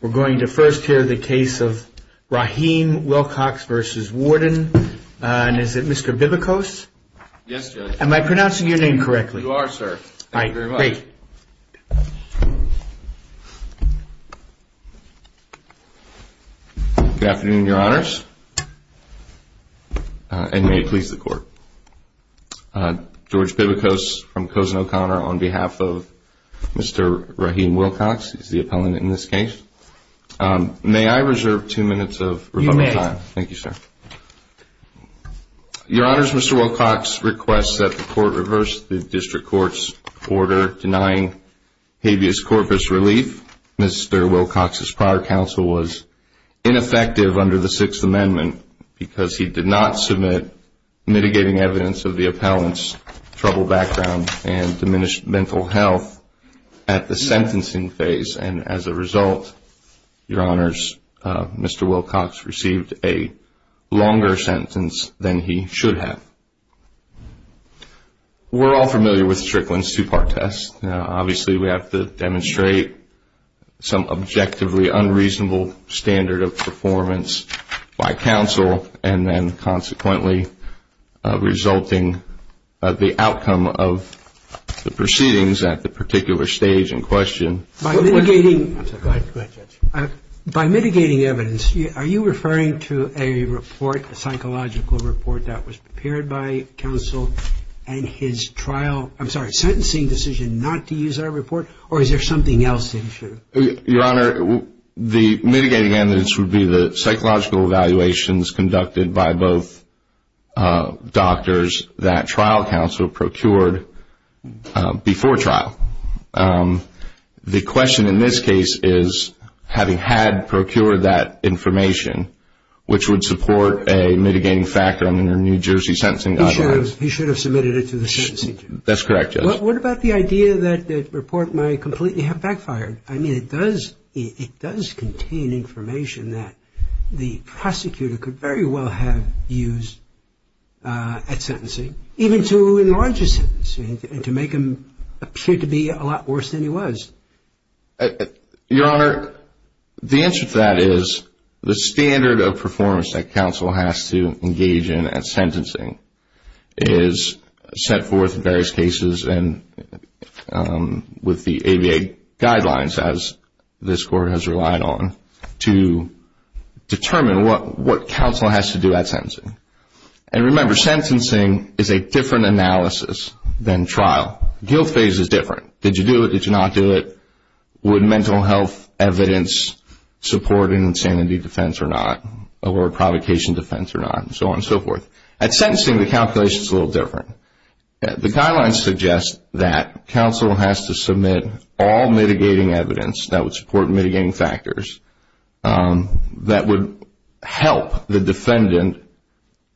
We're going to first hear the case of Raheem Wilcox v. Warden, and is it Mr. Bibikos? Yes, Judge. Am I pronouncing your name correctly? You are, sir. All right, great. Thank you very much. Good afternoon, Your Honors, and may it please the Court. George Bibikos from Cozen O'Connor on behalf of Mr. Raheem Wilcox is the appellant in this case. May I reserve two minutes of rebuttal time? You may. Thank you, sir. Your Honors, Mr. Wilcox requests that the Court reverse the District Court's order denying habeas corpus relief. Mr. Wilcox's prior counsel was ineffective under the Sixth Amendment because he did not submit mitigating evidence of the appellant's troubled background and diminished mental health at the sentencing phase. And as a result, Your Honors, Mr. Wilcox received a longer sentence than he should have. We're all familiar with Strickland's two-part test. Obviously, we have to demonstrate some objectively unreasonable standard of performance by counsel, and then consequently resulting the outcome of the proceedings at the particular stage in question. By mitigating evidence, are you referring to a report, a psychological report that was prepared by counsel, and his trial ‑‑ I'm sorry, sentencing decision not to use that report, or is there something else that he should have? Your Honor, the mitigating evidence would be the psychological evaluations conducted by both doctors that trial counsel procured before trial. The question in this case is, having had procured that information, which would support a mitigating factor under New Jersey sentencing guidelines. He should have submitted it to the sentencing judge. That's correct, Judge. What about the idea that the report might completely have backfired? I mean, it does contain information that the prosecutor could very well have used at sentencing, even to enlarge his sentence and to make him appear to be a lot worse than he was. Your Honor, the answer to that is the standard of performance that counsel has to engage in at sentencing is set forth in various cases with the ABA guidelines, as this Court has relied on, to determine what counsel has to do at sentencing. And remember, sentencing is a different analysis than trial. Guilt phase is different. Did you do it? Did you not do it? Would mental health evidence support an insanity defense or not, or a provocation defense or not, and so on and so forth. At sentencing, the calculation is a little different. The guidelines suggest that counsel has to submit all mitigating evidence that would support mitigating factors that would help the defendant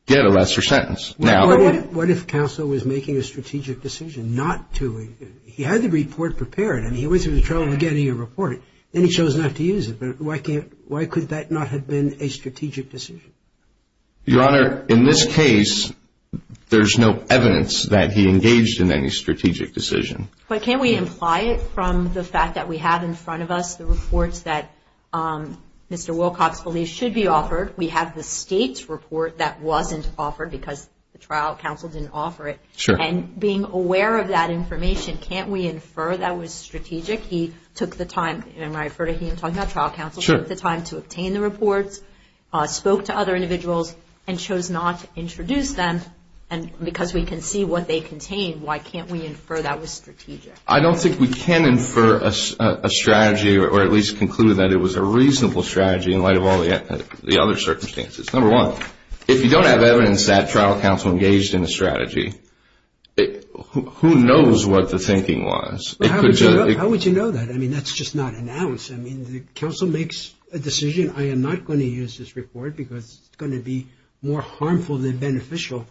get a lesser sentence. What if counsel was making a strategic decision not to? He had the report prepared, and he went through the trouble of getting a report, and he chose not to use it. Why could that not have been a strategic decision? Your Honor, in this case, there's no evidence that he engaged in any strategic decision. But can't we imply it from the fact that we have in front of us the reports that Mr. Wilcox believes should be offered? We have the state's report that wasn't offered because the trial counsel didn't offer it. Sure. And being aware of that information, can't we infer that was strategic? He took the time, and I refer to him talking about trial counsel, took the time to obtain the reports, spoke to other individuals, and chose not to introduce them. And because we can see what they contain, why can't we infer that was strategic? I don't think we can infer a strategy or at least conclude that it was a reasonable strategy in light of all the other circumstances. Number one, if you don't have evidence that trial counsel engaged in a strategy, who knows what the thinking was? How would you know that? I mean, that's just not announced. I mean, the counsel makes a decision, I am not going to use this report because it's going to be more harmful than beneficial.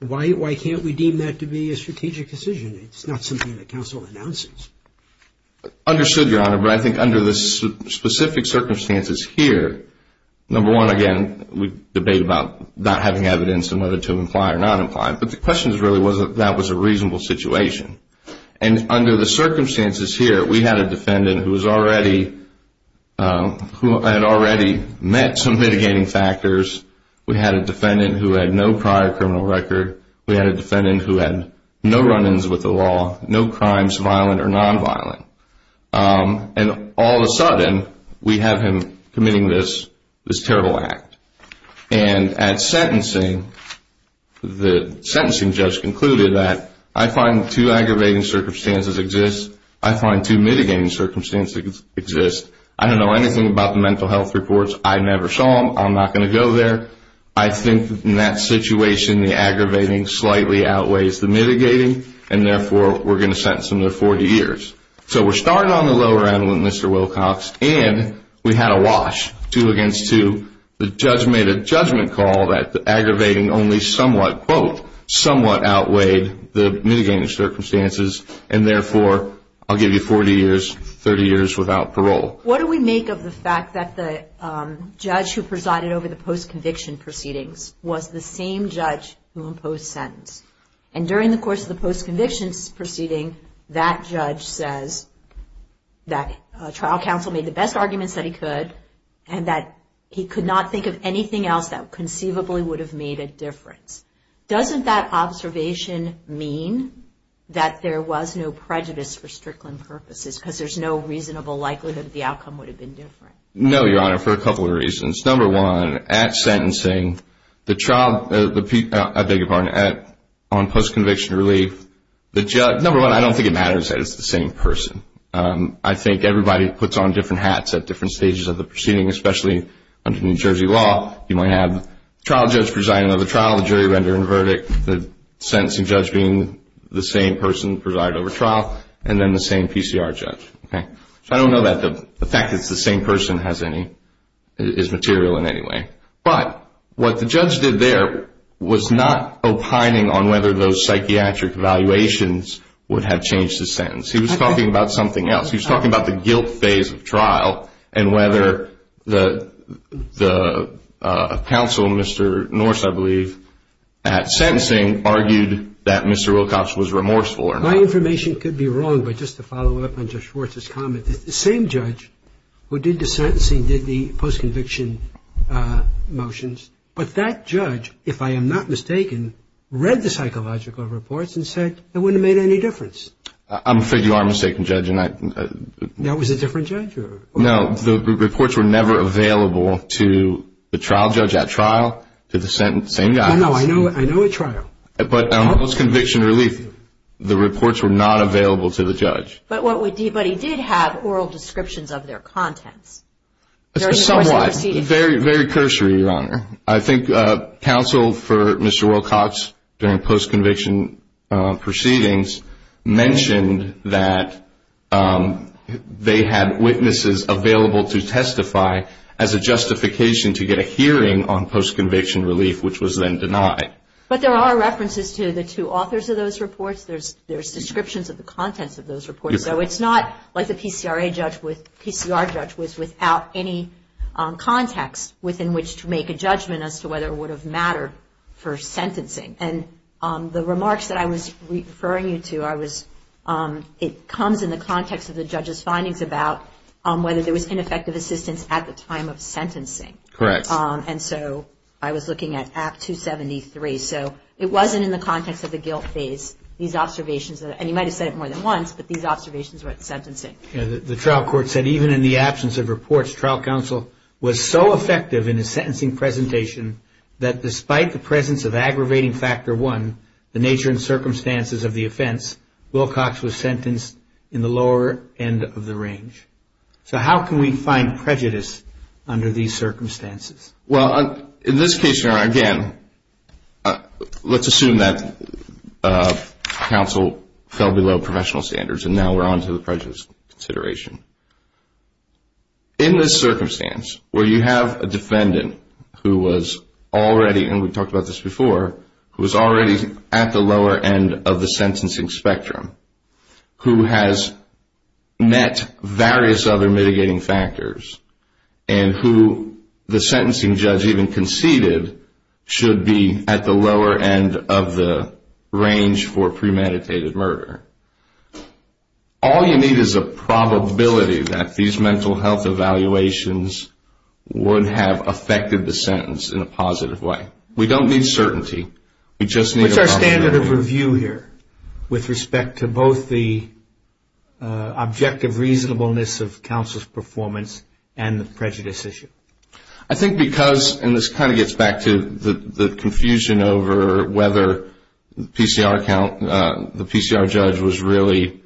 Why can't we deem that to be a strategic decision? I mean, it's not something that counsel announces. Understood, Your Honor, but I think under the specific circumstances here, number one, again, we debate about not having evidence and whether to imply or not imply, but the question really was that that was a reasonable situation. And under the circumstances here, we had a defendant who had already met some mitigating factors. We had a defendant who had no prior criminal record. We had a defendant who had no run-ins with the law, no crimes, violent or nonviolent. And all of a sudden, we have him committing this terrible act. And at sentencing, the sentencing judge concluded that I find two aggravating circumstances exist. I find two mitigating circumstances exist. I don't know anything about the mental health reports. I never saw them. I'm not going to go there. I think in that situation, the aggravating slightly outweighs the mitigating, and therefore, we're going to sentence him to 40 years. So we're starting on the lower end with Mr. Wilcox, and we had a wash, two against two. The judge made a judgment call that the aggravating only somewhat, quote, somewhat outweighed the mitigating circumstances, and therefore, I'll give you 40 years, 30 years without parole. What do we make of the fact that the judge who presided over the post-conviction proceedings was the same judge who imposed sentence? And during the course of the post-conviction proceeding, that judge says that trial counsel made the best arguments that he could and that he could not think of anything else that conceivably would have made a difference. Doesn't that observation mean that there was no prejudice for Strickland purposes because there's no reasonable likelihood that the outcome would have been different? No, Your Honor, for a couple of reasons. Number one, at sentencing, the trial – I beg your pardon – on post-conviction relief, the judge – number one, I don't think it matters that it's the same person. I think everybody puts on different hats at different stages of the proceeding, especially under New Jersey law. You might have the trial judge presiding over the trial, the jury rendering verdict, the sentencing judge being the same person presided over trial, and then the same PCR judge. So I don't know that the fact that it's the same person is material in any way. But what the judge did there was not opining on whether those psychiatric evaluations would have changed the sentence. He was talking about something else. He was talking about the guilt phase of trial and whether the counsel, Mr. Norse, I believe, at sentencing argued that Mr. Wilcox was remorseful or not. My information could be wrong, but just to follow up on Judge Schwartz's comment, the same judge who did the sentencing did the post-conviction motions. But that judge, if I am not mistaken, read the psychological reports and said it wouldn't have made any difference. I'm afraid you are mistaken, Judge. That was a different judge? No. The reports were never available to the trial judge at trial, to the sentencing judge. No, no. I know at trial. But post-conviction relief, the reports were not available to the judge. But he did have oral descriptions of their contents during the course of the proceedings. Somewhat. Very cursory, Your Honor. I think counsel for Mr. Wilcox during post-conviction proceedings mentioned that they had witnesses available to testify as a justification to get a hearing on post-conviction relief, which was then denied. But there are references to the two authors of those reports. There's descriptions of the contents of those reports. So it's not like the PCR judge was without any context within which to make a judgment as to whether it would have mattered for sentencing. And the remarks that I was referring you to, it comes in the context of the judge's findings about whether there was ineffective assistance at the time of sentencing. Correct. And so I was looking at Act 273. So it wasn't in the context of the guilt phase. And you might have said it more than once, but these observations were at the sentencing. The trial court said even in the absence of reports, trial counsel was so effective in his sentencing presentation that despite the presence of aggravating factor one, the nature and circumstances of the offense, Wilcox was sentenced in the lower end of the range. So how can we find prejudice under these circumstances? Well, in this case, again, let's assume that counsel fell below professional standards and now we're on to the prejudice consideration. In this circumstance where you have a defendant who was already, and we talked about this before, who was already at the lower end of the sentencing spectrum, who has met various other mitigating factors, and who the sentencing judge even conceded should be at the lower end of the range for premeditated murder, all you need is a probability that these mental health evaluations would have affected the sentence in a positive way. We don't need certainty. We just need a probability. with respect to both the objective reasonableness of counsel's performance and the prejudice issue? I think because, and this kind of gets back to the confusion over whether the PCR judge was really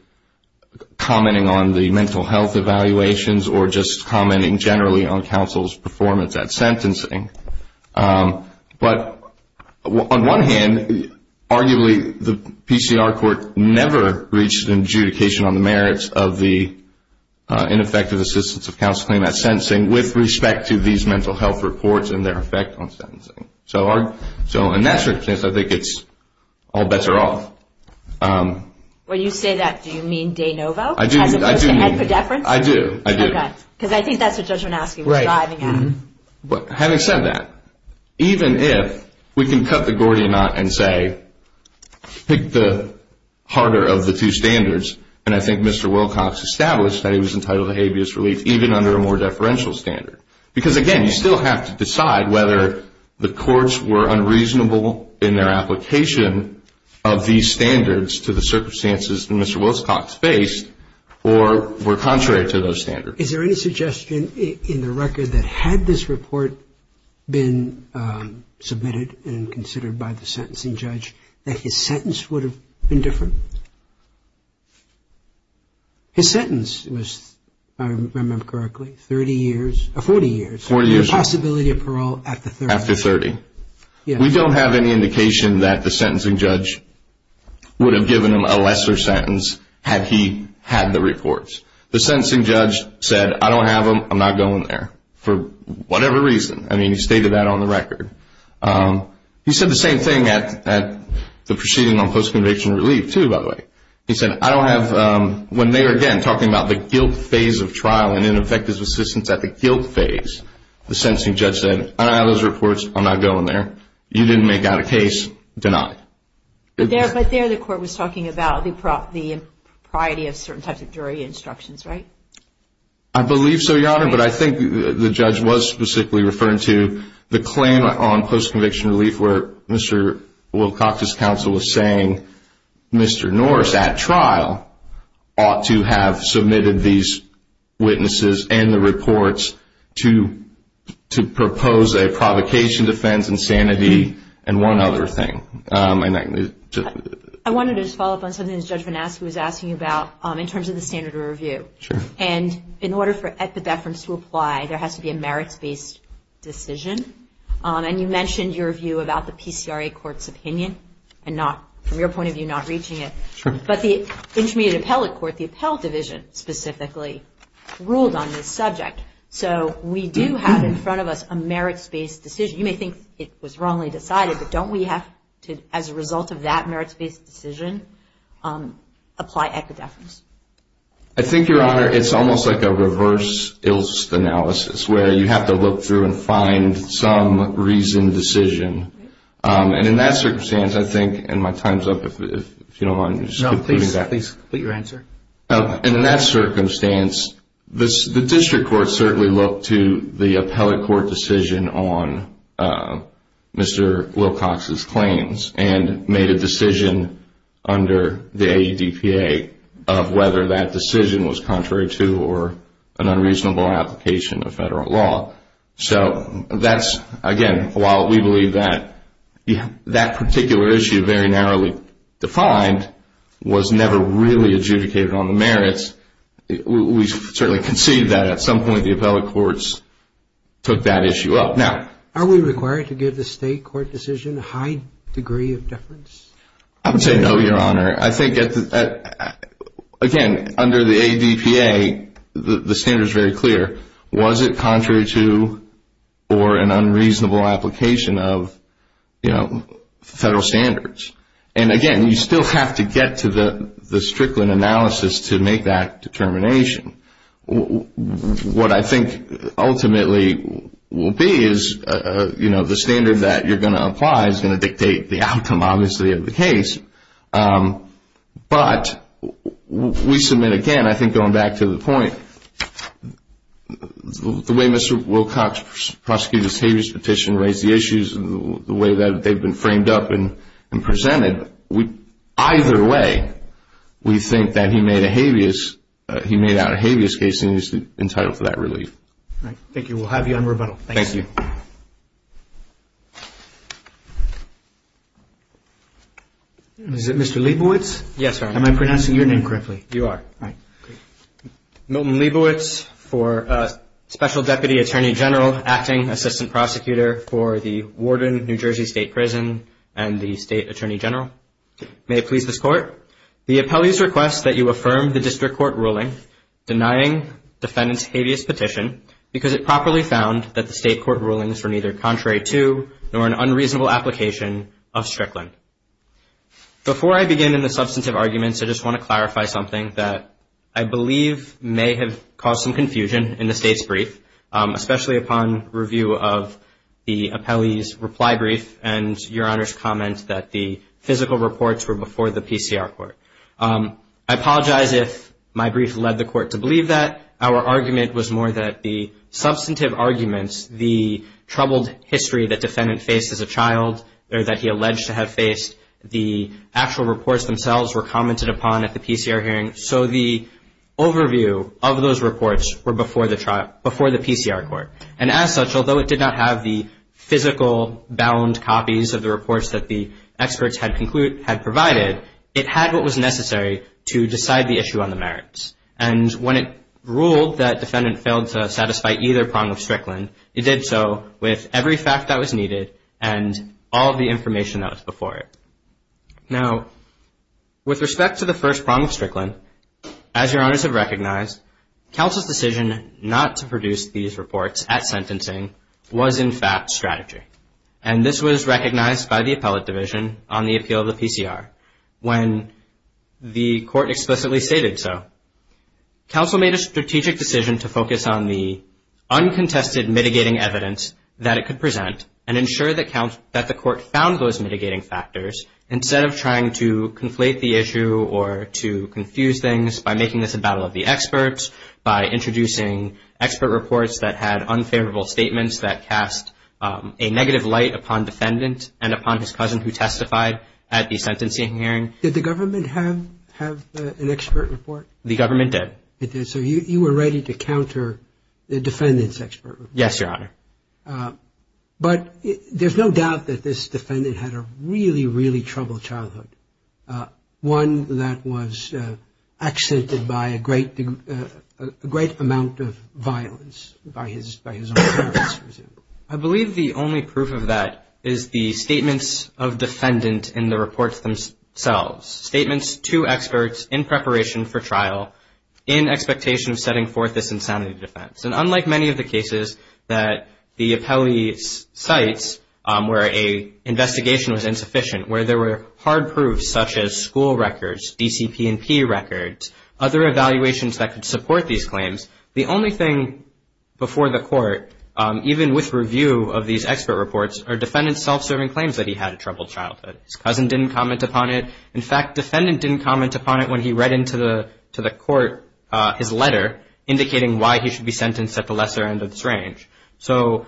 commenting on the mental health evaluations or just commenting generally on counsel's performance at sentencing. But on one hand, arguably the PCR court never reached an adjudication on the merits of the ineffective assistance of counsel in that sentencing with respect to these mental health reports and their effect on sentencing. So in that circumstance, I think it's all bets are off. When you say that, do you mean De Novo? I do. As opposed to Ed Pedefrans? I do, I do. Okay, because I think that's what Judge Manosky was driving at. Having said that, even if we can cut the Gordian knot and say, pick the harder of the two standards, and I think Mr. Wilcox established that he was entitled to habeas relief even under a more deferential standard. Because, again, you still have to decide whether the courts were unreasonable in their application of these standards to the circumstances that Mr. Wilcox faced or were contrary to those standards. Is there any suggestion in the record that had this report been submitted and considered by the sentencing judge, that his sentence would have been different? His sentence was, if I remember correctly, 30 years, 40 years. The possibility of parole after 30. After 30. We don't have any indication that the sentencing judge would have given him a lesser sentence had he had the reports. The sentencing judge said, I don't have them. I'm not going there, for whatever reason. I mean, he stated that on the record. He said the same thing at the proceeding on post-conviction relief, too, by the way. He said, I don't have, when they were, again, talking about the guilt phase of trial and ineffective assistance at the guilt phase, the sentencing judge said, I don't have those reports. I'm not going there. You didn't make out a case. Denied. But there the court was talking about the propriety of certain types of jury instructions, right? I believe so, Your Honor. But I think the judge was specifically referring to the claim on post-conviction relief where Mr. Wilcox's counsel was saying Mr. Norris at trial ought to have submitted these witnesses and the reports to propose a provocation defense and sanity and one other thing. I wanted to just follow up on something that Judge Van Aschen was asking about in terms of the standard of review. Sure. And in order for epidephrin to apply, there has to be a merits-based decision. And you mentioned your view about the PCRA court's opinion and not, from your point of view, not reaching it. Sure. But the Intermediate Appellate Court, the Appellate Division, specifically, ruled on this subject. So we do have in front of us a merits-based decision. You may think it was wrongly decided, but don't we have to, as a result of that merits-based decision, apply epidephrins? I think, Your Honor, it's almost like a reverse ilst analysis where you have to look through and find some reasoned decision. And in that circumstance, I think, and my time is up, if you don't mind. No, please. Please, put your answer. And in that circumstance, the District Court certainly looked to the Appellate Court decision on Mr. Wilcox's claims and made a decision under the AEDPA of whether that decision was contrary to or an unreasonable application of federal law. So that's, again, while we believe that that particular issue, very narrowly defined, was never really adjudicated on the merits, we certainly concede that at some point the Appellate Courts took that issue up. Now, are we required to give the state court decision a high degree of deference? I would say no, Your Honor. I think, again, under the AEDPA, the standard is very clear. Was it contrary to or an unreasonable application of federal standards? And, again, you still have to get to the Strickland analysis to make that determination. What I think ultimately will be is the standard that you're going to apply is going to dictate the outcome, obviously, of the case. But we submit, again, I think going back to the point, the way Mr. Wilcox prosecuted his habeas petition, raised the issues, the way that they've been framed up and presented, either way we think that he made out a habeas case and he's entitled to that relief. Thank you. We'll have you on rebuttal. Thank you. Is it Mr. Leibowitz? Yes, Your Honor. Am I pronouncing your name correctly? You are. All right. Milton Leibowitz for Special Deputy Attorney General, Acting Assistant Prosecutor for the Warden of New Jersey State Prison and the State Attorney General. May it please this Court, the appellee's request that you affirm the district court ruling denying defendant's habeas petition because it properly found that the state court rulings were neither contrary to nor an unreasonable application of Strickland. Before I begin in the substantive arguments, I just want to clarify something that I believe may have caused some confusion in the State's brief, especially upon review of the appellee's reply brief and Your Honor's comment that the physical reports were before the PCR report. I apologize if my brief led the Court to believe that. Our argument was more that the substantive arguments, the troubled history that defendant faced as a child or that he alleged to have faced, the actual reports themselves were commented upon at the PCR hearing. So the overview of those reports were before the PCR court. And as such, although it did not have the physical bound copies of the reports that the experts had provided, it had what was necessary to decide the issue on the merits. And when it ruled that defendant failed to satisfy either prong of Strickland, it did so with every fact that was needed and all the information that was before it. Now, with respect to the first prong of Strickland, as Your Honors have recognized, counsel's decision not to produce these reports at sentencing was in fact strategy. And this was recognized by the Appellate Division on the appeal of the PCR. When the Court explicitly stated so, counsel made a strategic decision to focus on the uncontested mitigating evidence that it could present and ensure that the Court found those mitigating factors instead of trying to conflate the issue or to confuse things by making this a battle of the experts, by introducing expert reports that had unfavorable statements that cast a negative light upon defendant and upon his cousin who testified at the sentencing hearing. Did the government have an expert report? The government did. So you were ready to counter the defendant's expert report? Yes, Your Honor. But there's no doubt that this defendant had a really, really troubled childhood, one that was accented by a great amount of violence by his own parents, for example. I believe the only proof of that is the statements of defendant in the reports themselves, statements to experts in preparation for trial in expectation of setting forth this insanity defense. And unlike many of the cases that the appellee cites where an investigation was insufficient, where there were hard proofs such as school records, DCP&P records, other evaluations that could support these claims, the only thing before the Court, even with review of these expert reports, are defendant's self-serving claims that he had a troubled childhood. His cousin didn't comment upon it. In fact, defendant didn't comment upon it when he read into the Court his letter indicating why he should be sentenced at the lesser end of this range. So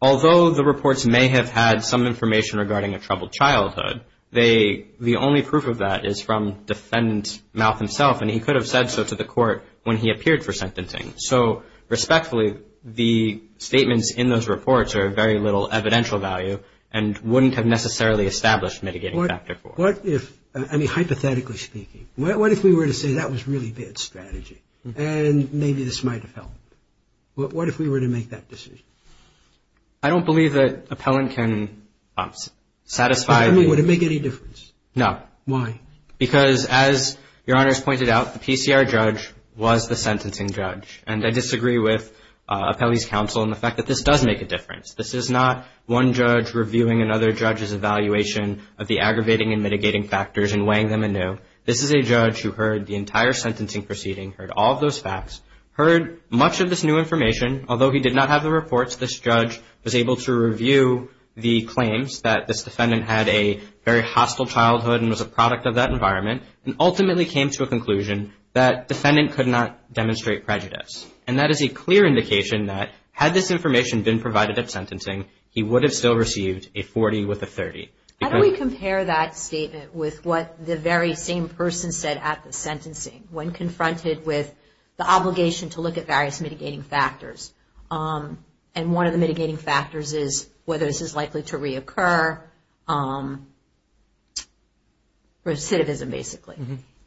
although the reports may have had some information regarding a troubled childhood, the only proof of that is from defendant's mouth himself, and he could have said so to the Court when he appeared for sentencing. So respectfully, the statements in those reports are of very little evidential value and wouldn't have necessarily established mitigating factor for it. I mean, hypothetically speaking, what if we were to say that was really bad strategy and maybe this might have helped? What if we were to make that decision? I don't believe that appellant can satisfy the rule. Would it make any difference? No. Why? Because as Your Honor has pointed out, the PCR judge was the sentencing judge, and I disagree with appellee's counsel in the fact that this does make a difference. This is not one judge reviewing another judge's evaluation of the aggravating and mitigating factors and weighing them anew. This is a judge who heard the entire sentencing proceeding, heard all of those facts, heard much of this new information. Although he did not have the reports, this judge was able to review the claims that this defendant had a very hostile childhood and was a product of that environment and ultimately came to a conclusion that defendant could not demonstrate prejudice. And that is a clear indication that had this information been provided at sentencing, he would have still received a 40 with a 30. How do we compare that statement with what the very same person said at the sentencing when confronted with the obligation to look at various mitigating factors? And one of the mitigating factors is whether this is likely to reoccur, recidivism basically.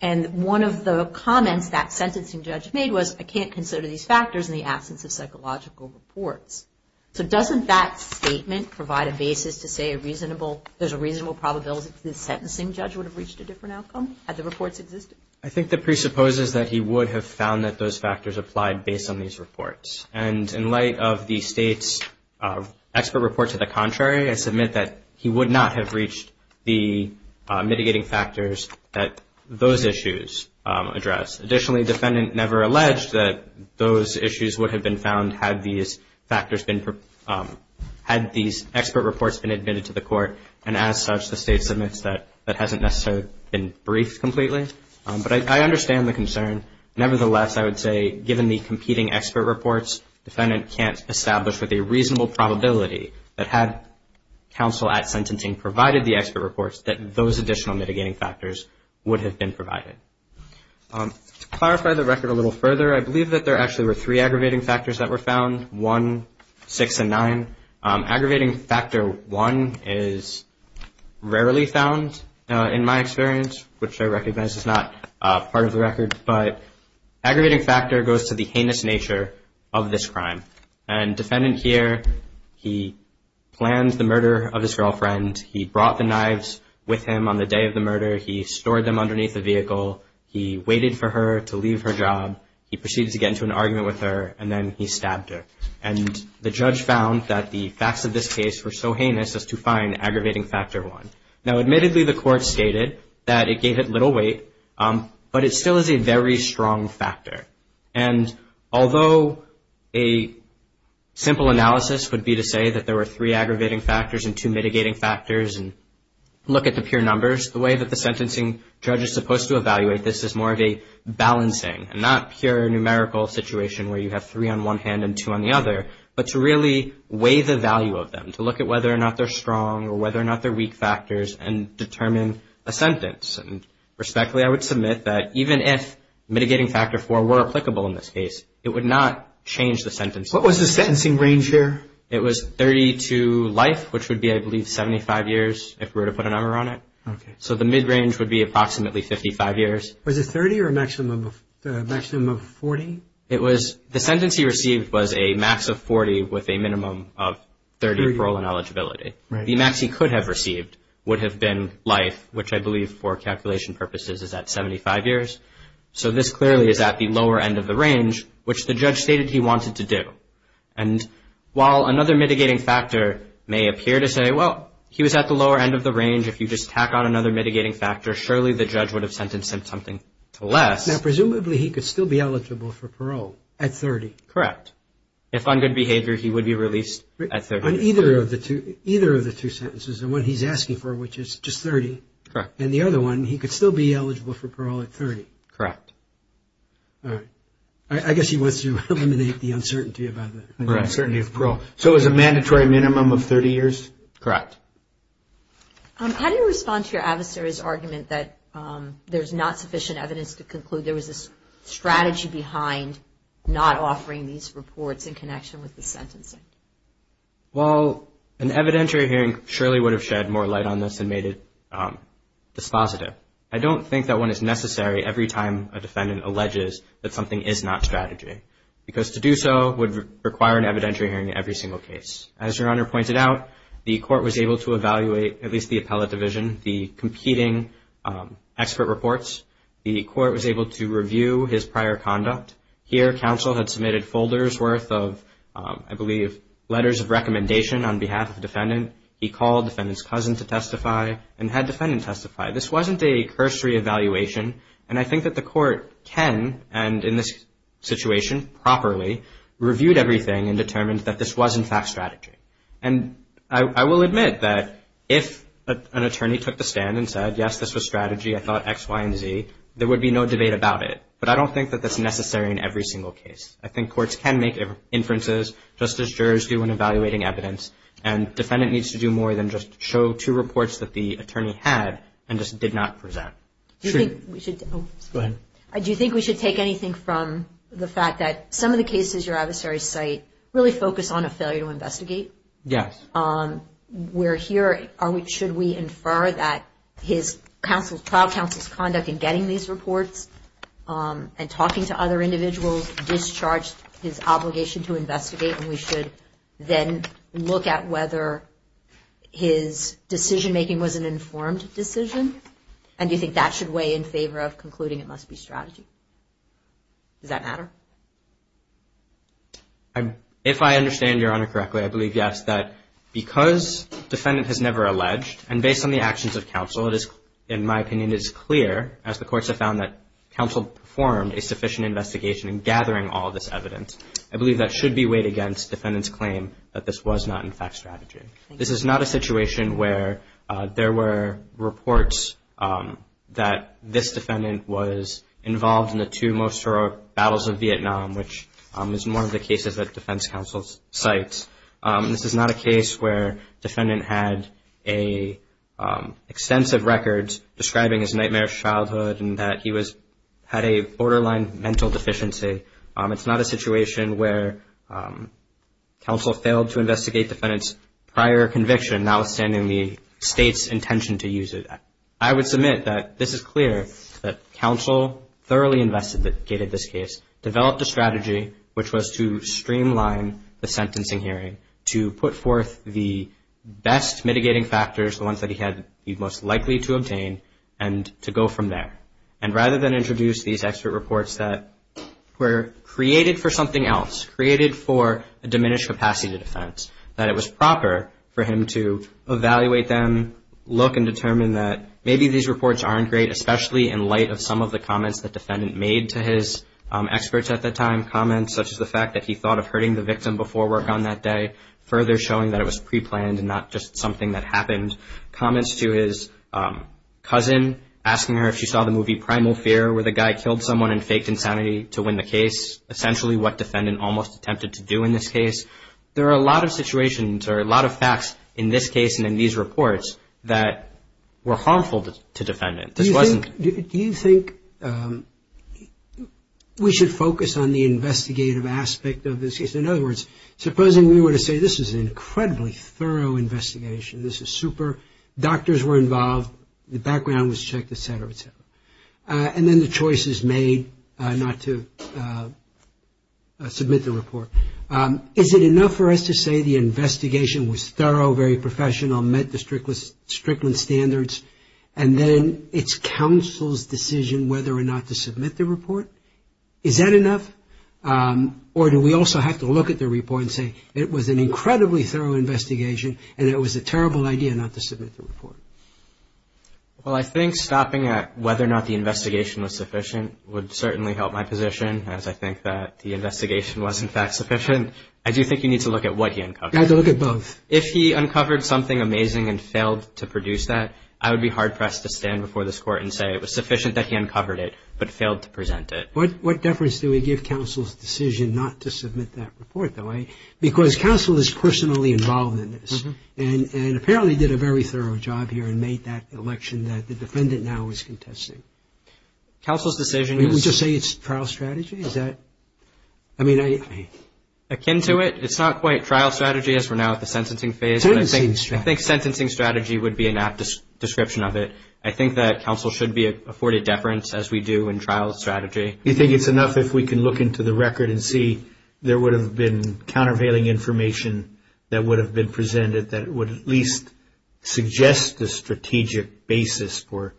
And one of the comments that sentencing judge made was, I can't consider these factors in the absence of psychological reports. So doesn't that statement provide a basis to say there's a reasonable probability that the sentencing judge would have reached a different outcome had the reports existed? I think that presupposes that he would have found that those factors applied based on these reports. And in light of the State's expert report to the contrary, I submit that he would not have reached the mitigating factors that those issues address. Additionally, defendant never alleged that those issues would have been found had these expert reports been admitted to the court. And as such, the State submits that. That hasn't necessarily been briefed completely. But I understand the concern. Nevertheless, I would say given the competing expert reports, defendant can't establish with a reasonable probability that had counsel at sentencing provided the expert reports, that those additional mitigating factors would have been provided. To clarify the record a little further, I believe that there actually were three aggravating factors that were found, one, six, and nine. Aggravating factor one is rarely found in my experience, which I recognize is not part of the record. But aggravating factor goes to the heinous nature of this crime. And defendant here, he planned the murder of his girlfriend. He brought the knives with him on the day of the murder. He stored them underneath the vehicle. He waited for her to leave her job. He proceeded to get into an argument with her, and then he stabbed her. And the judge found that the facts of this case were so heinous as to find aggravating factor one. Now, admittedly, the court stated that it gave it little weight, but it still is a very strong factor. And although a simple analysis would be to say that there were three aggravating factors and two mitigating factors and look at the pure numbers, the way that the sentencing judge is supposed to evaluate this is more of a balancing, not pure numerical situation where you have three on one hand and two on the other, but to really weigh the value of them, to look at whether or not they're strong or whether or not they're weak factors and determine a sentence. And respectfully, I would submit that even if mitigating factor four were applicable in this case, it would not change the sentence. What was the sentencing range here? It was 30 to life, which would be, I believe, 75 years if we were to put a number on it. So the mid-range would be approximately 55 years. Was it 30 or a maximum of 40? The sentence he received was a max of 40 with a minimum of 30 parole and eligibility. The max he could have received would have been life, which I believe for calculation purposes is at 75 years. So this clearly is at the lower end of the range, which the judge stated he wanted to do. And while another mitigating factor may appear to say, well, he was at the lower end of the range, if you just tack on another mitigating factor, surely the judge would have sentenced him to something less. Now, presumably he could still be eligible for parole at 30. Correct. If on good behavior, he would be released at 30. On either of the two sentences, the one he's asking for, which is just 30, and the other one, he could still be eligible for parole at 30. Correct. All right. I guess he wants to eliminate the uncertainty of parole. So it was a mandatory minimum of 30 years? Correct. How do you respond to your adversary's argument that there's not sufficient evidence to conclude there was a strategy behind not offering these reports in connection with the sentencing? Well, an evidentiary hearing surely would have shed more light on this and made it dispositive. I don't think that one is necessary every time a defendant alleges that something is not strategy, because to do so would require an evidentiary hearing in every single case. As Your Honor pointed out, the court was able to evaluate, at least the appellate division, the competing expert reports. The court was able to review his prior conduct. Here, counsel had submitted folders worth of, I believe, letters of recommendation on behalf of the defendant. He called the defendant's cousin to testify and had the defendant testify. This wasn't a cursory evaluation, and I think that the court can, and in this situation, properly reviewed everything and determined that this was, in fact, strategy. I will admit that if an attorney took the stand and said, yes, this was strategy, I thought X, Y, and Z, there would be no debate about it, but I don't think that that's necessary in every single case. I think courts can make inferences just as jurors do when evaluating evidence, and defendant needs to do more than just show two reports that the attorney had and just did not present. Do you think we should take anything from the fact that some of the cases your adversary cite really focus on a failure to investigate? Yes. Should we infer that his trial counsel's conduct in getting these reports and talking to other individuals discharged his obligation to investigate, and we should then look at whether his decision-making was an informed decision? And do you think that should weigh in favor of concluding it must be strategy? Does that matter? If I understand Your Honor correctly, I believe, yes, that because defendant has never alleged, and based on the actions of counsel, it is, in my opinion, it is clear, as the courts have found, that counsel performed a sufficient investigation in gathering all of this evidence. I believe that should be weighed against defendant's claim that this was not, in fact, strategy. This is not a situation where there were reports that this defendant was involved in the two most heroic battles of Vietnam, which is one of the cases that defense counsel cites. This is not a case where defendant had extensive records describing his nightmare childhood and that he had a borderline mental deficiency. It's not a situation where counsel failed to investigate defendant's prior conviction, notwithstanding the state's intention to use it. I would submit that this is clear, that counsel thoroughly investigated this case, developed a strategy which was to streamline the sentencing hearing to put forth the best mitigating factors, the ones that he had the most likely to obtain, and to go from there. And rather than introduce these expert reports that were created for something else, created for a diminished capacity to defense, that it was proper for him to evaluate them, look and determine that maybe these reports aren't great, especially in light of some of the comments that defendant made to his experts at the time, comments such as the fact that he thought of hurting the victim before work on that day, further showing that it was preplanned and not just something that happened. Comments to his cousin, asking her if she saw the movie Primal Fear, where the guy killed someone and faked insanity to win the case, essentially what defendant almost attempted to do in this case. There are a lot of situations or a lot of facts in this case and in these reports that were harmful to defendant. Do you think we should focus on the investigative aspect of this case? In other words, supposing we were to say this is an incredibly thorough investigation, this is super, doctors were involved, the background was checked, etc., etc. And then the choice is made not to submit the report. Is it enough for us to say the investigation was thorough, very professional, met the Strickland standards and then it's counsel's decision whether or not to submit the report? Is that enough? Or do we also have to look at the report and say it was an incredibly thorough investigation and it was a terrible idea not to submit the report? Well, I think stopping at whether or not the investigation was sufficient would certainly help my position, as I think that the investigation was, in fact, sufficient. I do think you need to look at what he uncovered. You have to look at both. If he uncovered something amazing and failed to produce that, I would be hard-pressed to stand before this Court and say it was sufficient that he uncovered it but failed to present it. What deference do we give counsel's decision not to submit that report, though? Because counsel is personally involved in this and apparently did a very thorough job here and made that election that the defendant now is contesting. Counsel's decision is... We just say it's trial strategy? I mean... Akin to it, it's not quite trial strategy as we're now at the sentencing phase. Sentencing strategy. I think sentencing strategy would be an apt description of it. I think that counsel should be afforded deference as we do in trial strategy. You think it's enough if we can look into the record and see there would have been countervailing information that would have been presented that it would at least suggest a strategic basis for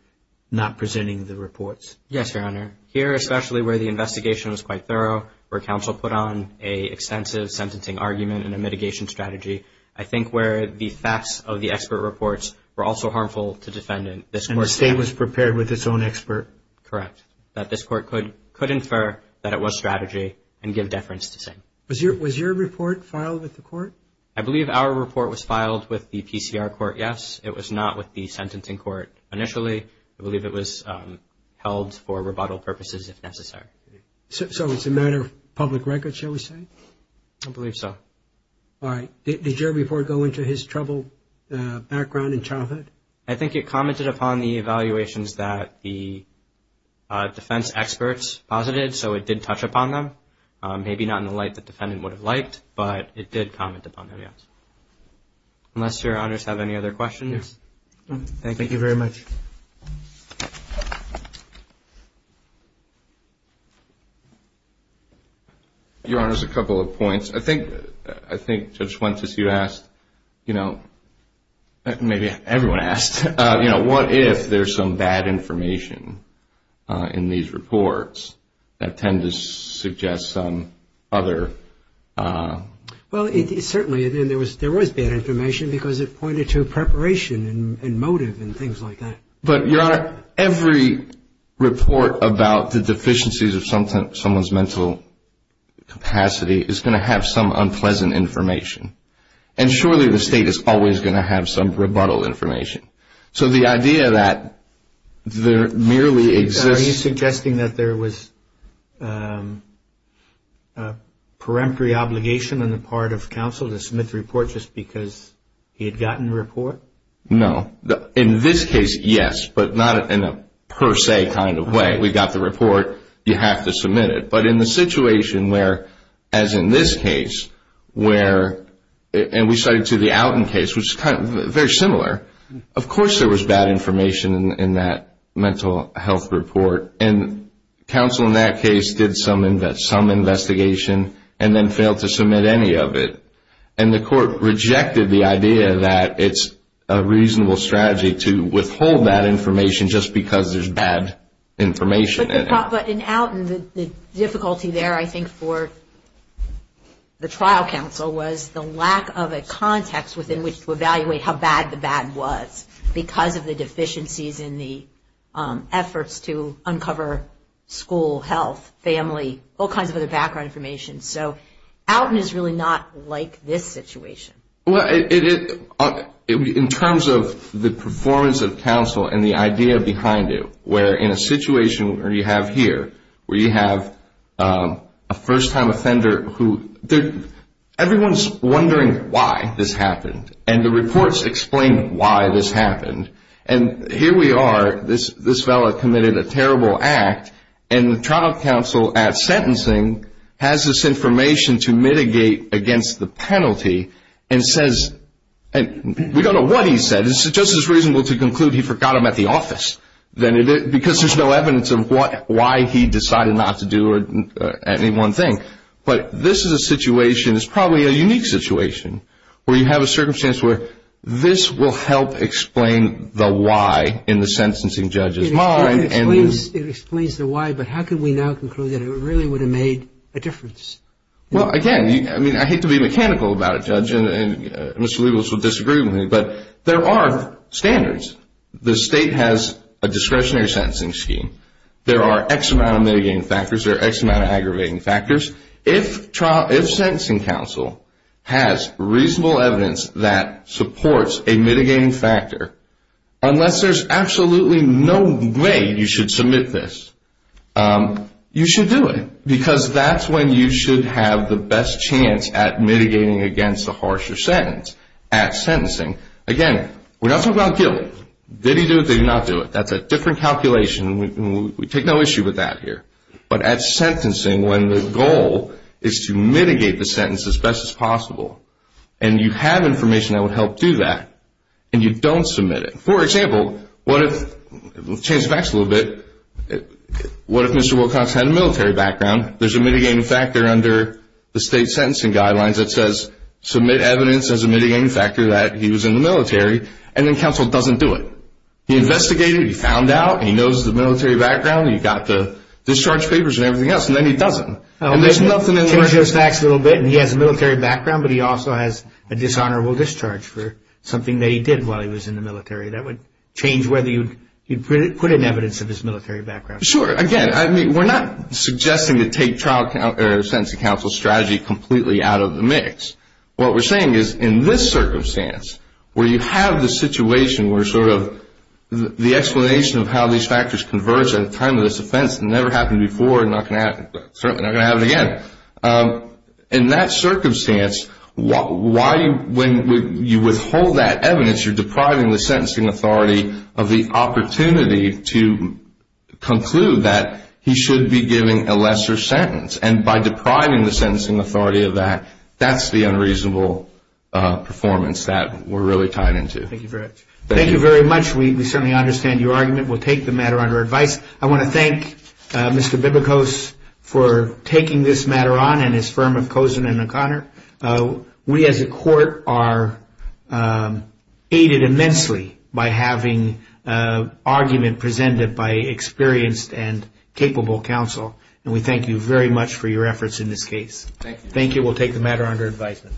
not presenting the reports? Yes, Your Honor. Here, especially where the investigation was quite thorough, where counsel put on an extensive sentencing argument and a mitigation strategy, I think where the facts of the expert reports were also harmful to the defendant. And the State was prepared with its own expert? Correct. That this Court could infer that it was strategy and give deference to say. Was your report filed with the Court? I believe our report was filed with the PCR Court, yes. It was not with the sentencing court initially. I believe it was held for rebuttal purposes if necessary. So it's a matter of public record, shall we say? I believe so. All right. Did your report go into his troubled background and childhood? I think it commented upon the evaluations that the defense experts posited, so it did touch upon them. Maybe not in the light the defendant would have liked, but it did comment upon them, yes. Unless Your Honors have any other questions. Thank you very much. Your Honors, a couple of points. I think Judge Fuentes, you asked, you know, maybe everyone asked, you know, if the State is going to have some other... Well, certainly there was bad information because it pointed to preparation and motive and things like that. But, Your Honor, every report about the deficiencies of someone's mental capacity is going to have some unpleasant information. And surely the State is always going to have some rebuttal information. So the idea that there merely exists... Are you suggesting that there was a peremptory obligation on the part of counsel to submit the report just because he had gotten the report? No. In this case, yes, but not in a per se kind of way. We got the report. You have to submit it. But in the situation where, as in this case, where, and we cited to the Alton case, which was very similar, of course there was bad information in that mental health report. And counsel in that case did some investigation and then failed to submit any of it. And the court rejected the idea that it's a reasonable strategy to withhold that information just because there's bad information in it. But in Alton, the difficulty there, I think, for the trial counsel was the lack of a context within which to evaluate how bad the bad was because of the deficiencies in the efforts to uncover school, health, family, all kinds of other background information. So Alton is really not like this situation. In terms of the performance of counsel and the idea behind it, where in a situation where you have here, where you have a first-time offender who, everyone's wondering why this happened. And the reports explain why this happened. And here we are, this fellow committed a terrible act, and the trial counsel at sentencing has this information to mitigate against the penalty and says, we don't know what he said, it's just as reasonable to conclude he forgot them at the office because there's no evidence of why he decided not to do any one thing. But this is a situation, it's probably a unique situation, where you have a circumstance where this will help explain the why in the sentencing judge's mind. It explains the why, but how can we now conclude that it really would have made a difference? Well, again, I mean, I hate to be mechanical about it, Judge, and Mr. Leibovitz will disagree with me, but there are standards. The state has a discretionary sentencing scheme. There are X amount of mitigating factors, there are X amount of aggravating factors. If sentencing counsel has reasonable evidence that supports a mitigating factor, unless there's absolutely no way you should submit this, you should do it. Because that's when you should have the best chance at mitigating against the harsher sentence, at sentencing. Again, we're not talking about guilt. Did he do it, did he not do it? That's a different calculation, and we take no issue with that here. But at sentencing, when the goal is to mitigate the sentence as best as possible, and you have information that would help do that, and you don't submit it. For example, what if, let's change the facts a little bit, what if Mr. Wilcox had a military background, there's a mitigating factor under the state sentencing guidelines that says, submit evidence as a mitigating factor that he was in the military, and then counsel doesn't do it. He investigated, he found out, he knows the military background, he got the discharge papers and everything else, and then he doesn't. Change those facts a little bit, and he has a military background, but he also has a dishonorable discharge for something that he did while he was in the military. That would change whether you'd put in evidence of his military background. Sure. Again, we're not suggesting to take sentencing counsel's strategy completely out of the mix. What we're saying is in this circumstance, where you have the situation where sort of the explanation of how these factors converge at a time of this offense that never happened before and certainly not going to happen again, in that circumstance, when you withhold that evidence, you're depriving the sentencing authority of the opportunity to conclude that he should be giving a lesser sentence. And by depriving the sentencing authority of that, that's the unreasonable performance that we're really tied into. Thank you very much. We certainly understand your argument. We'll take the matter under advice. I want to thank Mr. Bibicos for taking this matter on and his firm of Kozen and O'Connor. We as a court are aided immensely by having argument presented by experienced and capable counsel. And we thank you very much for your efforts in this case. Thank you. Thank you. We'll take the matter under advisement.